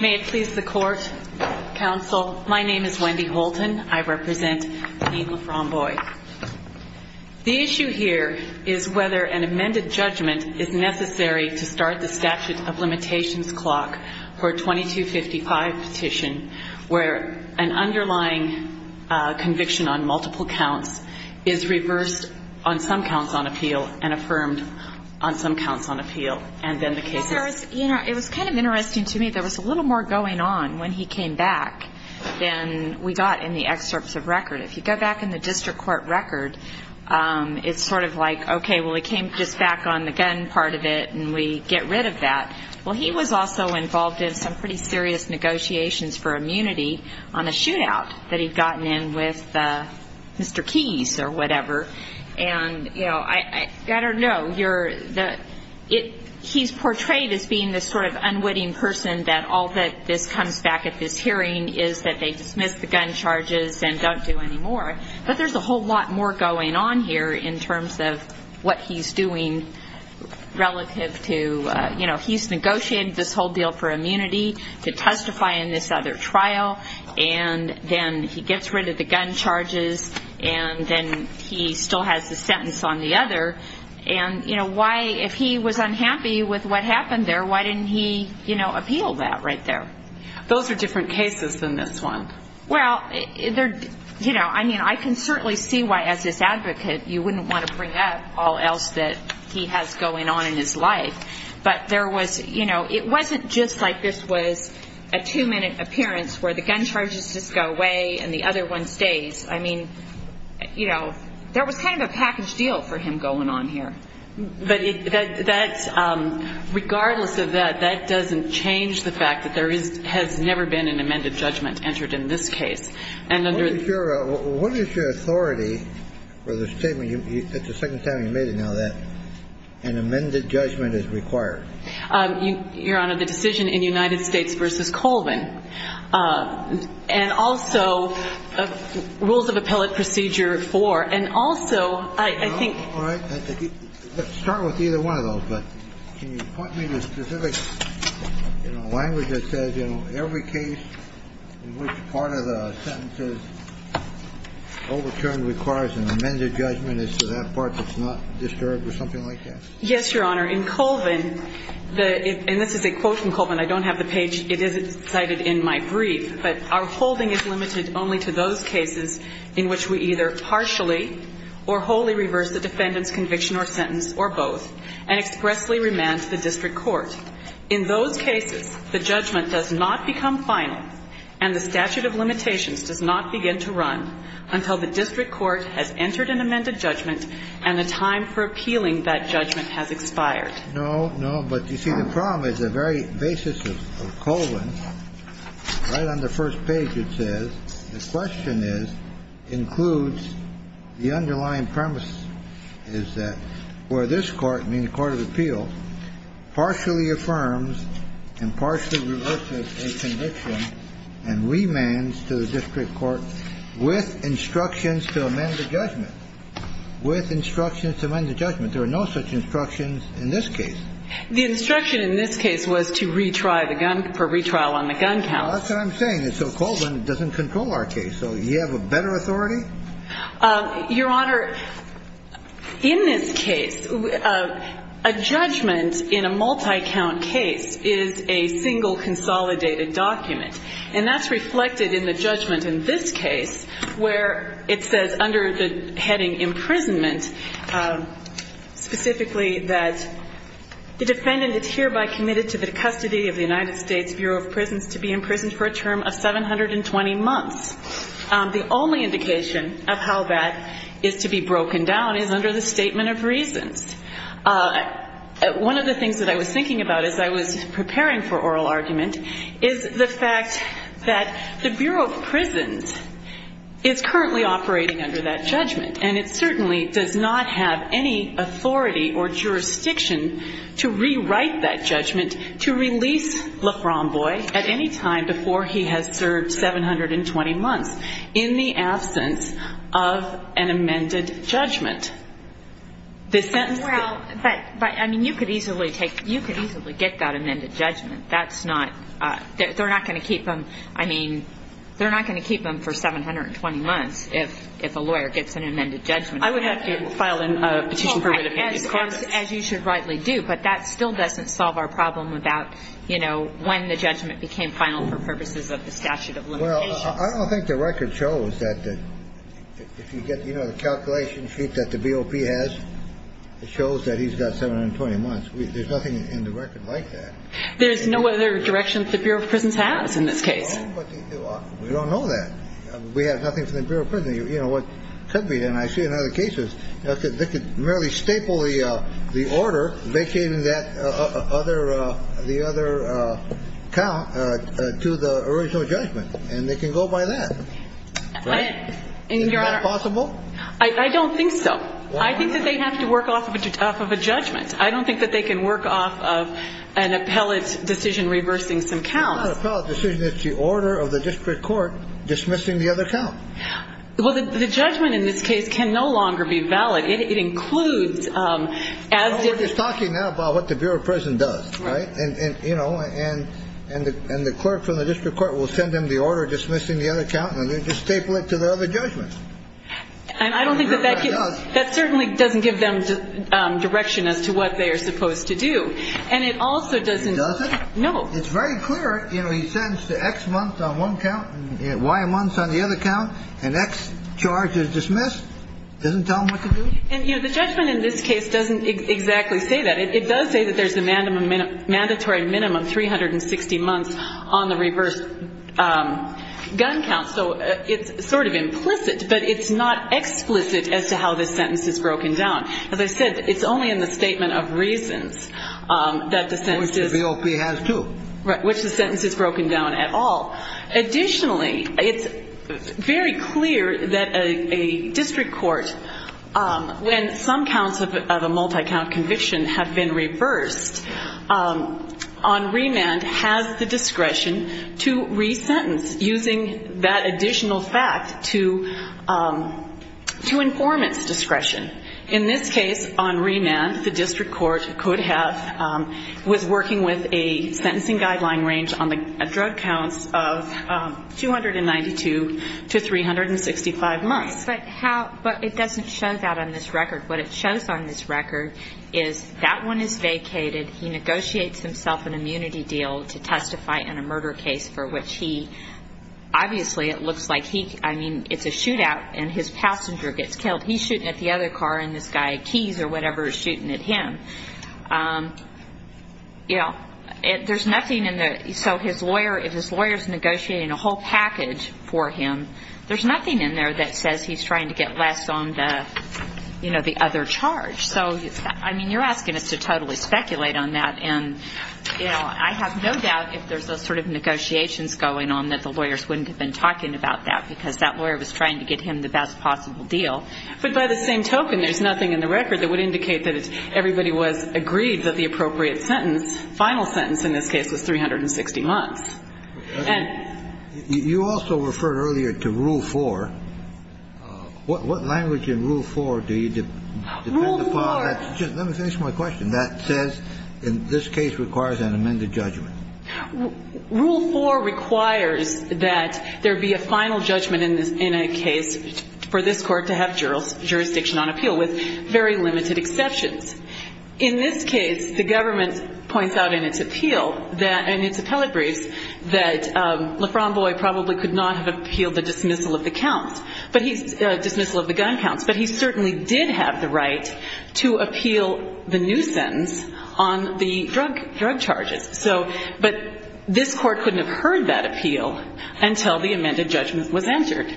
May it please the court, counsel. My name is Wendy Holton. I represent v. LaFROMBOISE. The issue here is whether an amended judgment is necessary to start the statute of limitations clock for a 2255 petition, where an underlying conviction on multiple counts is reversed on some counts on appeal and affirmed on some counts on appeal, and then the case is... You know, it was kind of interesting to me. There was a little more going on when he came back than we got in the excerpts of record. If you go back in the district court record, it's sort of like, okay, well, he came just back on the gun part of it, and we get rid of that. Well, he was also involved in some pretty serious negotiations for immunity on the shootout that he'd gotten in with Mr. Keys or whatever. And, you know, I don't know. You're the... He's portrayed as being this sort of unwitting person that all that this comes back at this hearing is that they dismiss the gun charges and don't do any more. But there's a whole lot more going on here in terms of what he's doing relative to, you know, he's negotiated this whole deal for immunity to testify in this other trial, and then he gets rid of the gun charges, and then he still has the sentence on the other. And, you know, why, if he was unhappy with what happened there, why didn't he, you know, appeal that right there? Those are different cases than this one. Well, they're... You know, I mean, I can certainly see why, as his advocate, you wouldn't want to bring up all else that he has going on in his life. But there was, you know, it wasn't just like this was a two-minute appearance where the gun charges just go away and the other one stays. I mean, you know, there was kind of a package deal for him going on here. But that's... Regardless of that, that doesn't change the fact that there is... has never been an amended judgment entered in this case. And under... What is your authority for the statement you... It's the second time you've made it now that an amended judgment is required? Your Honor, the decision in United States v. Colvin. And also, rules of appellate procedure four. And also, I think... All right. Let's start with either one of those. But can you point me to a specific, you know, language that says, you know, every case in which part of the sentence is overturned requires an amended judgment as to that part that's not disturbed or something like that? Yes, Your Honor. In Colvin, the... And this is a quote from Colvin. I don't have the page. It isn't cited in my brief. But our holding is limited only to those cases in which we either partially or wholly reverse the defendant's conviction or sentence or both and expressly remand to the district court. In those cases, the judgment does not become final and the statute of limitations does not begin to run until the district court has entered an amended judgment and the time for appealing that judgment has expired. No, no. But, you see, the problem is the very basis of Colvin. Right on the first page, it says, the question is, includes the underlying premise is that where this court, meaning the court of appeal, partially affirms and partially reverses a conviction and remands to the district court with instructions to amend the judgment. With instructions to amend the judgment. There are no such instructions in this case. The instruction in this case was to retry the gun, for retrial on the gun count. That's what I'm saying. And so Colvin doesn't control our case. So you have a better authority? Your Honor, in this case, a judgment in a multi-count case is a single consolidated document. And that's reflected in the judgment in this case where it says under the heading imprisonment, specifically that the defendant is hereby committed to the custody of the United States Bureau of Prisons to be imprisoned for a term of 720 months. The only indication of how that is to be broken down is under the statement of reasons. One of the things that I was thinking about as I was preparing for oral argument is the fact that the Bureau of Prisons is currently operating under that judgment. And it certainly does not have any authority or jurisdiction to rewrite that judgment to release LaFromboise at any time before he has served 720 months in the absence of an amended judgment. Well, but, I mean, you could easily take, you could easily get that amended judgment. That's not, they're not going to keep them, I mean, they're not going to keep them for 720 months if a lawyer gets an amended judgment. I would have to file a petition for an amended judgment. As you should rightly do. But that still doesn't solve our problem about, you know, when the judgment became final for purposes of the statute of limitations. Well, I don't think the record shows that if you get, you know, the calculation sheet that the BOP has, it shows that he's got 720 months. There's nothing in the record like that. There's no other direction that the Bureau of Prisons has in this case. Well, but we don't know that. We have nothing from the Bureau of Prisons, you know, what could be. And I see in other cases they could merely staple the order making that other, the other count to the original judgment. And they can go by that. Right? And, Your Honor. Is that possible? I don't think so. Why not? I think that they have to work off of a judgment. I don't think that they can work off of an appellate decision reversing some counts. It's not an appellate decision. It's the order of the district court dismissing the other count. Well, the judgment in this case can no longer be valid. It includes, as did the We're just talking now about what the Bureau of Prisons does. Right? And, you know, and the clerk from the district court will send them the order dismissing the other count, and they'll just staple it to the other judgment. And I don't think that that certainly doesn't give them direction as to what they are supposed to do. And it also doesn't It doesn't? No. It's very clear, you know, he sends the X month on one count, Y months on the other count, and X charge is dismissed. Doesn't tell them what to do? And, you know, the judgment in this case doesn't exactly say that. It does say that there's a mandatory minimum 360 months on the reverse gun count. So it's sort of implicit, but it's not explicit as to how this sentence is broken down. As I said, it's only in the statement of reasons that the sentence is Which the BOP has too. Right. Which the sentence is broken down at all. Additionally, it's very clear that a district court, when some counts of a multi-count conviction have been reversed, on remand has the discretion to resentence using that additional fact to informant's discretion. In this case, on remand, the district court could have, was working with a sentencing guideline range on the drug counts of 292 to 365 months. But how, but it doesn't show that on this record. What it shows on this record is that one is vacated, he negotiates himself an immunity deal to I mean, it's a shootout, and his passenger gets killed. He's shooting at the other car, and this guy, Keys or whatever, is shooting at him. You know, there's nothing in the, so his lawyer, if his lawyer's negotiating a whole package for him, there's nothing in there that says he's trying to get less on the, you know, the other charge. So, I mean, you're asking us to totally speculate on that, and, you know, I have no doubt if there's those sort of negotiations going on that the lawyers wouldn't have been talking about that because that lawyer was trying to get him the best possible deal. But by the same token, there's nothing in the record that would indicate that everybody was, agreed that the appropriate sentence, final sentence in this case was 360 months. And You also referred earlier to Rule 4. What language in Rule 4 do you Rule 4 depend upon, just let me finish my question. That says, in this case, requires an amended judgment. Rule 4 requires that there be a final judgment in this, in a case for this court to have jurisdiction on appeal, with very limited exceptions. In this case, the government points out in its appeal that, in its appellate briefs, that LaFromboise probably could not have appealed the dismissal of the counts, dismissal of the gun counts, but he certainly did have the right to But this court couldn't have heard that appeal until the amended judgment was entered.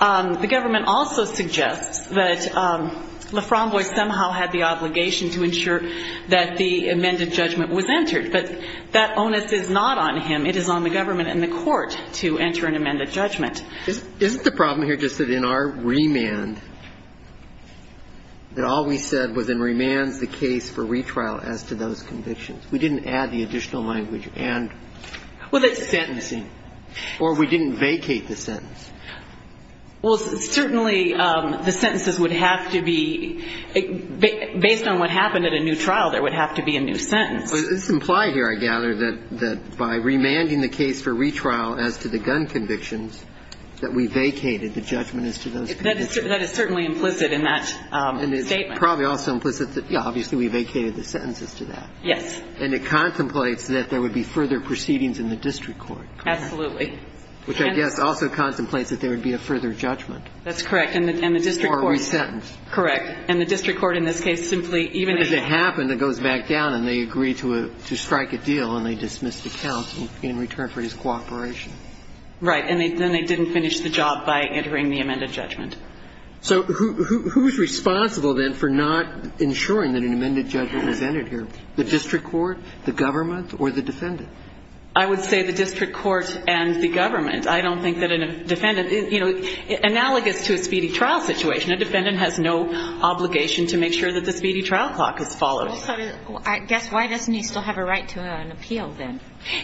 The government also suggests that LaFromboise somehow had the obligation to ensure that the amended judgment was entered. But that onus is not on him. It is on the government and the court to enter an amended judgment. Isn't the problem here just that in our remand, that all we said was in remands the case for retrial as to those convictions. We didn't add the additional language and sentencing. Or we didn't vacate the sentence. Well, certainly the sentences would have to be, based on what happened at a new trial, there would have to be a new sentence. But this implies here, I gather, that by remanding the case for retrial as to the gun convictions, that we vacated the judgment as to those convictions. That is certainly implicit in that statement. And it's probably also implicit that, yeah, obviously we vacated the sentences to that. Yes. And it contemplates that there would be further proceedings in the district court. Absolutely. Which I guess also contemplates that there would be a further judgment. That's correct. Or a re-sentence. Correct. And the district court in this case simply, even if But if it happened, it goes back down and they agree to strike a deal and they dismiss the counts in return for his cooperation. Right. And then they didn't finish the job by entering the amended judgment. So who's responsible then for not ensuring that an amended judgment is entered here? The district court, the government, or the defendant? I would say the district court and the government. I don't think that a defendant, you know, analogous to a speedy trial situation, a defendant has no obligation to make sure that the speedy trial clock is followed. Well, so I guess why doesn't he still have a right to an appeal then?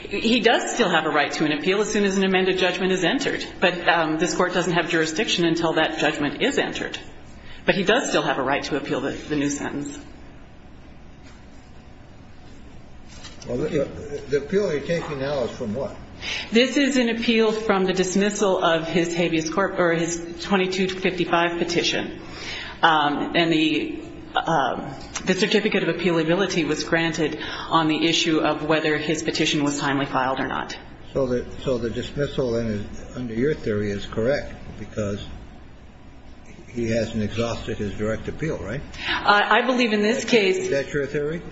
He does still have a right to an appeal as soon as an amended judgment is entered. But this court doesn't have jurisdiction until that judgment is entered. But he does still have a right to appeal the new sentence. The appeal you're taking now is from what? This is an appeal from the dismissal of his habeas corpus, or his 2255 petition. And the certificate of appealability was granted on the issue of whether his petition was timely filed or not. So the dismissal under your theory is correct because he hasn't exhausted his direct appeal, right? I believe in this case. Is that your theory?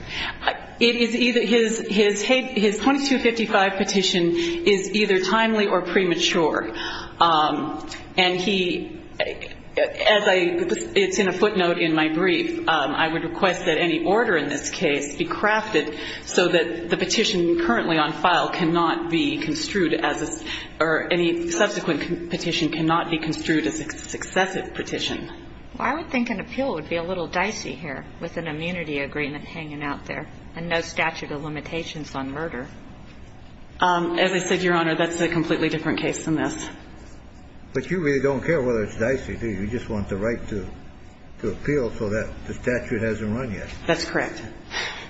His 2255 petition is either timely or premature. And he, as I, it's in a footnote in my brief, I would request that any order in this case be crafted so that the petition currently on file cannot be construed as a, or any subsequent petition cannot be construed as a successive petition. Well, I would think an appeal would be a little dicey here with an immunity agreement hanging out there and no statute of limitations on murder. As I said, Your Honor, that's a completely different case than this. But you really don't care whether it's dicey, do you? You just want the right to appeal so that the statute hasn't run yet. That's correct.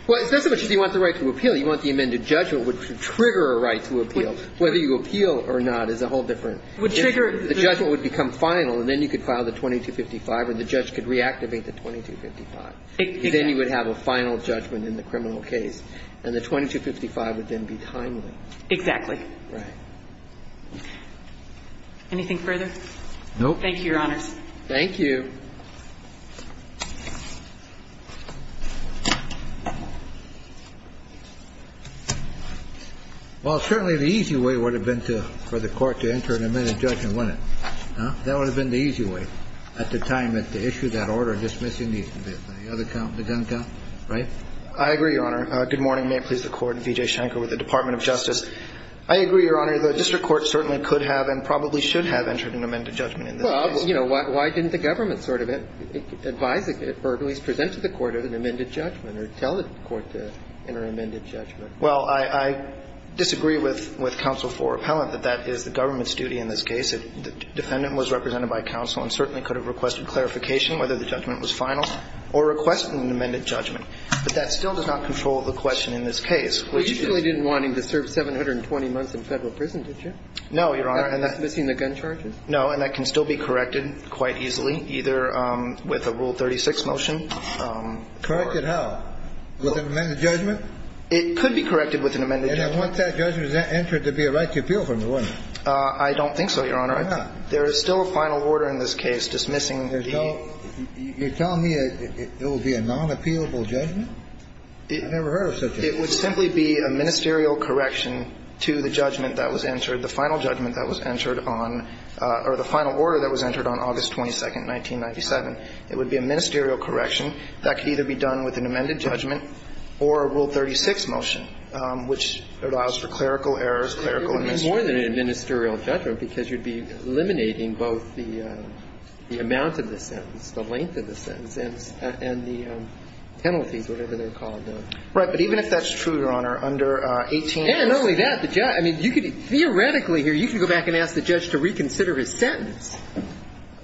Well, it's not so much that you want the right to appeal. You want the amended judgment, which would trigger a right to appeal. Whether you appeal or not is a whole different. The judgment would become final, and then you could file the 2255 or the judge could reactivate the 2255. Then you would have a final judgment in the criminal case. And the 2255 would then be timely. Exactly. Right. Anything further? No. Thank you, Your Honors. Thank you. Well, certainly the easy way would have been for the court to enter an amended judgment, wouldn't it? That would have been the easy way at the time that they issued that order dismissing the other count, the gun count. Right? I agree, Your Honor. Good morning. May it please the Court. V.J. Shanker with the Department of Justice. I agree, Your Honor. The district court certainly could have and probably should have entered an amended judgment in this case. Well, you know, why didn't the government sort of advise or at least present to the court to enter an amended judgment or tell the court to enter an amended judgment? Well, I disagree with Counsel for Appellant that that is the government's duty in this case. The defendant was represented by counsel and certainly could have requested clarification whether the judgment was final or requested an amended judgment. But that still does not control the question in this case, which is – Well, you really didn't want him to serve 720 months in Federal prison, did you? No, Your Honor. That's missing the gun charges. No, and that can still be corrected quite easily, either with a Rule 36 motion. Corrected how? With an amended judgment? It could be corrected with an amended judgment. And I want that judgment entered to be a right to appeal for me, wouldn't it? I don't think so, Your Honor. Why not? There is still a final order in this case dismissing the – You're telling me it will be a non-appealable judgment? I've never heard of such a thing. It would simply be a ministerial correction to the judgment that was entered, the final judgment that was entered on – or the final order that was entered on August 22nd, 1997. It would be a ministerial correction that could either be done with an amended judgment or a Rule 36 motion, which allows for clerical errors, clerical administration. It would be more than a ministerial judgment because you'd be eliminating both the amount of the sentence, the length of the sentence, and the penalties, whatever they're called. Right. But even if that's true, Your Honor, under 18 months – And not only that, the judge – I mean, you could – theoretically here, you can go back and ask the judge to reconsider his sentence.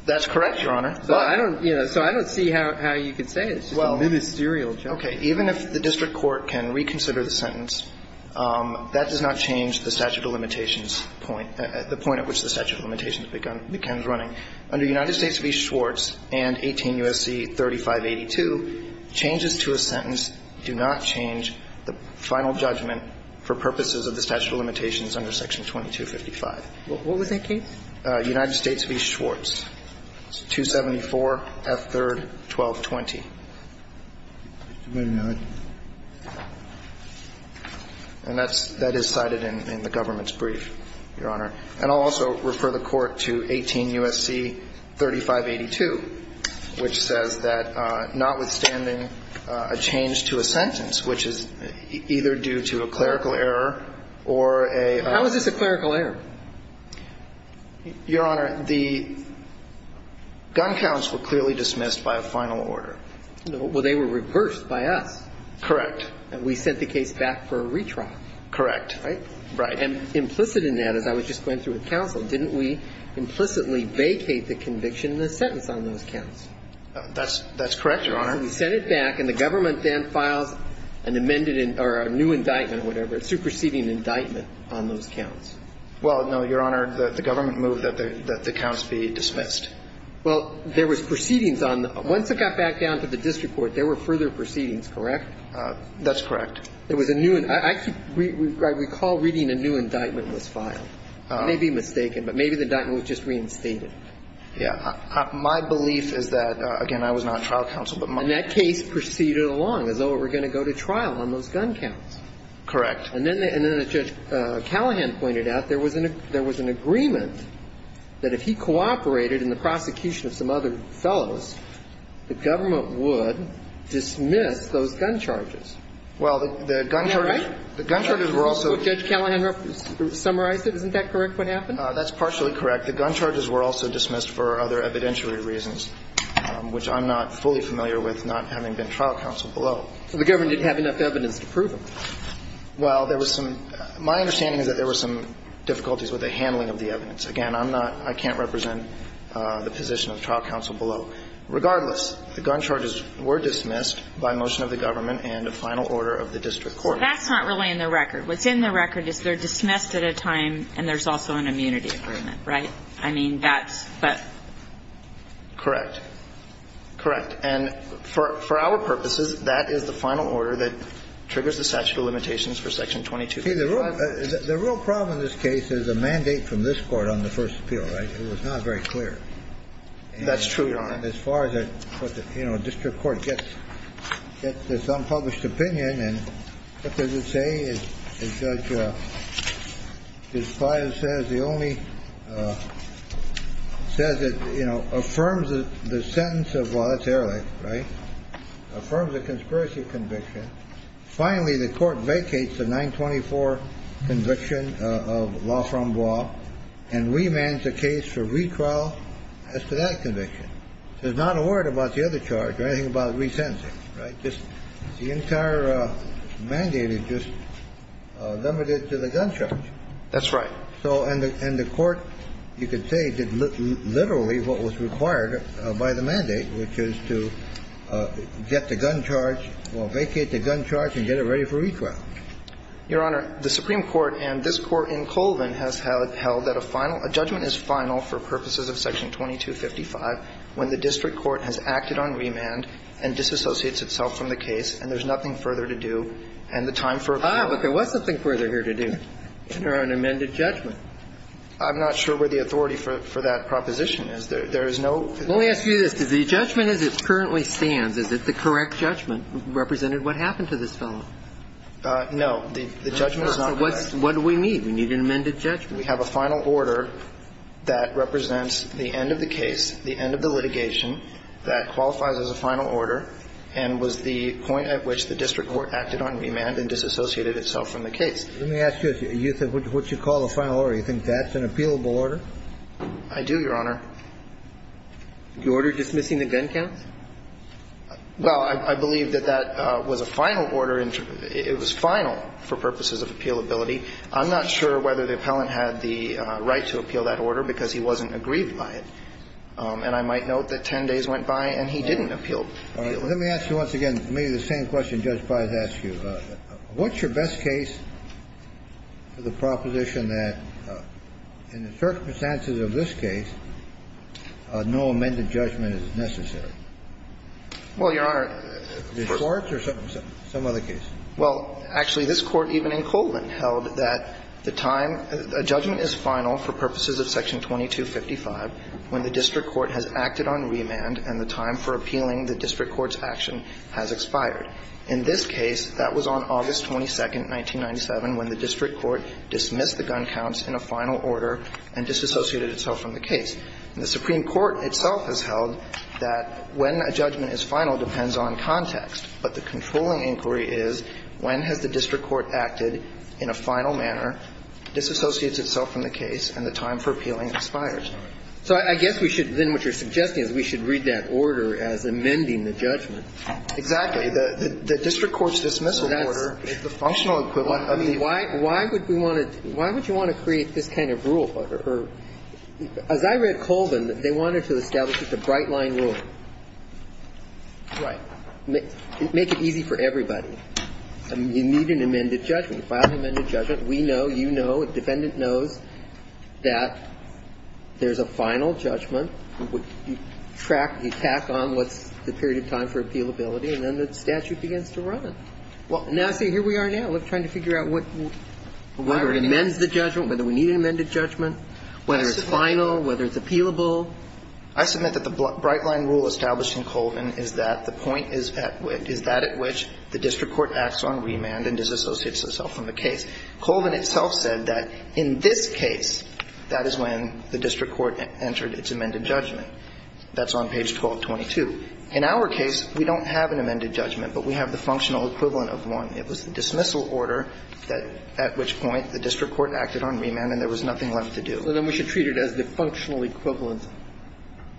That's correct, Your Honor. So I don't – you know, so I don't see how you could say it's a ministerial judgment. Okay. Even if the district court can reconsider the sentence, that does not change the statute of limitations point – the point at which the statute of limitations becomes running. Under United States v. Schwartz and 18 U.S.C. 3582, changes to a sentence do not change the final judgment for purposes of the statute of limitations under Section 2255. What was that case? United States v. Schwartz, 274 F. 3rd, 1220. And that's – that is cited in the government's brief, Your Honor. And I'll also refer the Court to 18 U.S.C. 3582, which says that notwithstanding a change to a sentence, which is either due to a clerical error or a – How is this a clerical error? Your Honor, the gun counts were clearly dismissed by a final order. Well, they were reversed by us. Correct. And we sent the case back for a retrial. Correct. Right? Right. And implicit in that, as I was just going through with counsel, didn't we implicitly vacate the conviction in the sentence on those counts? That's – that's correct, Your Honor. We sent it back, and the government then files an amended – or a new indictment or whatever, a superseding indictment on those counts. Well, no, Your Honor. The government moved that the counts be dismissed. Well, there was proceedings on – once it got back down to the district court, there were further proceedings, correct? That's correct. There was a new – I keep – I recall reading a new indictment was filed. I may be mistaken, but maybe the indictment was just reinstated. Yeah. My belief is that – again, I was not trial counsel, but my – And that case proceeded along as though it were going to go to trial on those gun counts. Correct. And then the – and then as Judge Callahan pointed out, there was an – there was an agreement that if he cooperated in the prosecution of some other fellows, the government would dismiss those gun charges. Well, the gun charges – Am I right? The gun charges were also – Judge Callahan summarized it. Isn't that correct, what happened? That's partially correct. The gun charges were also dismissed for other evidentiary reasons, which I'm not fully familiar with, not having been trial counsel below. So the government didn't have enough evidence to prove them. Well, there was some – my understanding is that there was some difficulties with the handling of the evidence. Again, I'm not – I can't represent the position of trial counsel below. Regardless, the gun charges were dismissed by motion of the government and a final order of the district court. That's not really in the record. What's in the record is they're dismissed at a time and there's also an immunity agreement, right? I mean, that's – but – Correct. Correct. And for our purposes, that is the final order that triggers the statute of limitations for Section 2235. The real problem in this case is a mandate from this Court on the first appeal, right? It was not very clear. That's true, Your Honor. And as far as that, you know, district court gets this unpublished opinion and what does it say? It says that, you know, affirms the sentence of – well, that's Erlich, right? Affirms a conspiracy conviction. Finally, the court vacates the 924 conviction of Laframboise and remands the case for re-trial as to that conviction. There's not a word about the other charge or anything about resentencing, right? The entire mandate is just limited to the gun charge. That's right. So – and the court, you could say, did literally what was required by the mandate, which is to get the gun charge – well, vacate the gun charge and get it ready for re-trial. Your Honor, the Supreme Court and this Court in Colvin has held that a final – a judgment is final for purposes of Section 2255 when the district court has acted on remand and disassociates itself from the case and there's nothing further to do. And the time for appeal – Ah, but there was something further here to do. Enter an amended judgment. I'm not sure where the authority for that proposition is. There is no – Let me ask you this. Does the judgment as it currently stands, is it the correct judgment represented what happened to this fellow? No. The judgment is not correct. What do we need? We need an amended judgment. We have a final order that represents the end of the case, the end of the litigation that qualifies as a final order and was the point at which the district court acted on remand and disassociated itself from the case. Let me ask you this. You said what you call a final order. You think that's an appealable order? I do, Your Honor. The order dismissing the gun counts? Well, I believe that that was a final order. It was final for purposes of appealability. I'm not sure whether the appellant had the right to appeal that order because he wasn't aggrieved by it. And I might note that 10 days went by and he didn't appeal. All right. Let me ask you once again maybe the same question Judge Fries asked you. What's your best case for the proposition that in the circumstances of this case, no amended judgment is necessary? Well, Your Honor – The courts or some other case? Well, actually, this Court even in Colvin held that the time – a judgment is final for purposes of Section 2255 when the district court has acted on remand and the time for appealing the district court's action has expired. In this case, that was on August 22nd, 1997, when the district court dismissed the gun counts in a final order and disassociated itself from the case. And the Supreme Court itself has held that when a judgment is final depends on context. But the controlling inquiry is when has the district court acted in a final manner, disassociates itself from the case, and the time for appealing expires. So I guess we should – then what you're suggesting is we should read that order as amending the judgment. Exactly. The district court's dismissal order is the functional equivalent of the – Why would we want to – why would you want to create this kind of rule? As I read Colvin, they wanted to establish it's a bright-line rule. Right. Make it easy for everybody. You need an amended judgment. You file an amended judgment. We know, you know, a defendant knows that there's a final judgment. You track – you tack on what's the period of time for appealability, and then the statute begins to run. Well, now see, here we are now. We're trying to figure out what – whether it amends the judgment, whether we need an amended judgment, whether it's final, whether it's appealable. I submit that the bright-line rule established in Colvin is that the point is at which the district court acts on remand and disassociates itself from the case. Colvin itself said that in this case, that is when the district court entered its amended judgment. That's on page 1222. In our case, we don't have an amended judgment, but we have the functional equivalent of one. It was the dismissal order at which point the district court acted on remand and there was nothing left to do. So then we should treat it as the functional equivalent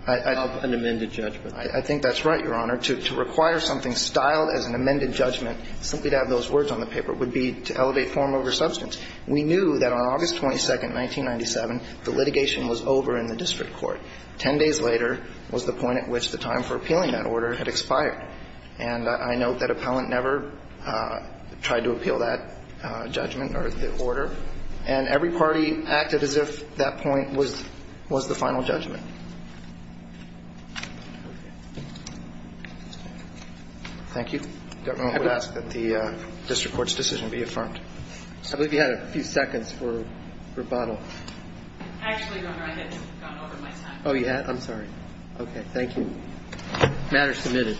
of an amended judgment. I think that's right, Your Honor. To require something styled as an amended judgment, simply to have those words on the paper, would be to elevate form over substance. We knew that on August 22nd, 1997, the litigation was over in the district court. Ten days later was the point at which the time for appealing that order had expired. And I note that appellant never tried to appeal that judgment or the order. And every party acted as if that point was the final judgment. Thank you. I would ask that the district court's decision be affirmed. I believe you had a few seconds for rebuttal. Actually, Your Honor, I had gone over my time. Oh, you had? I'm sorry. Okay. Thank you. Matter submitted.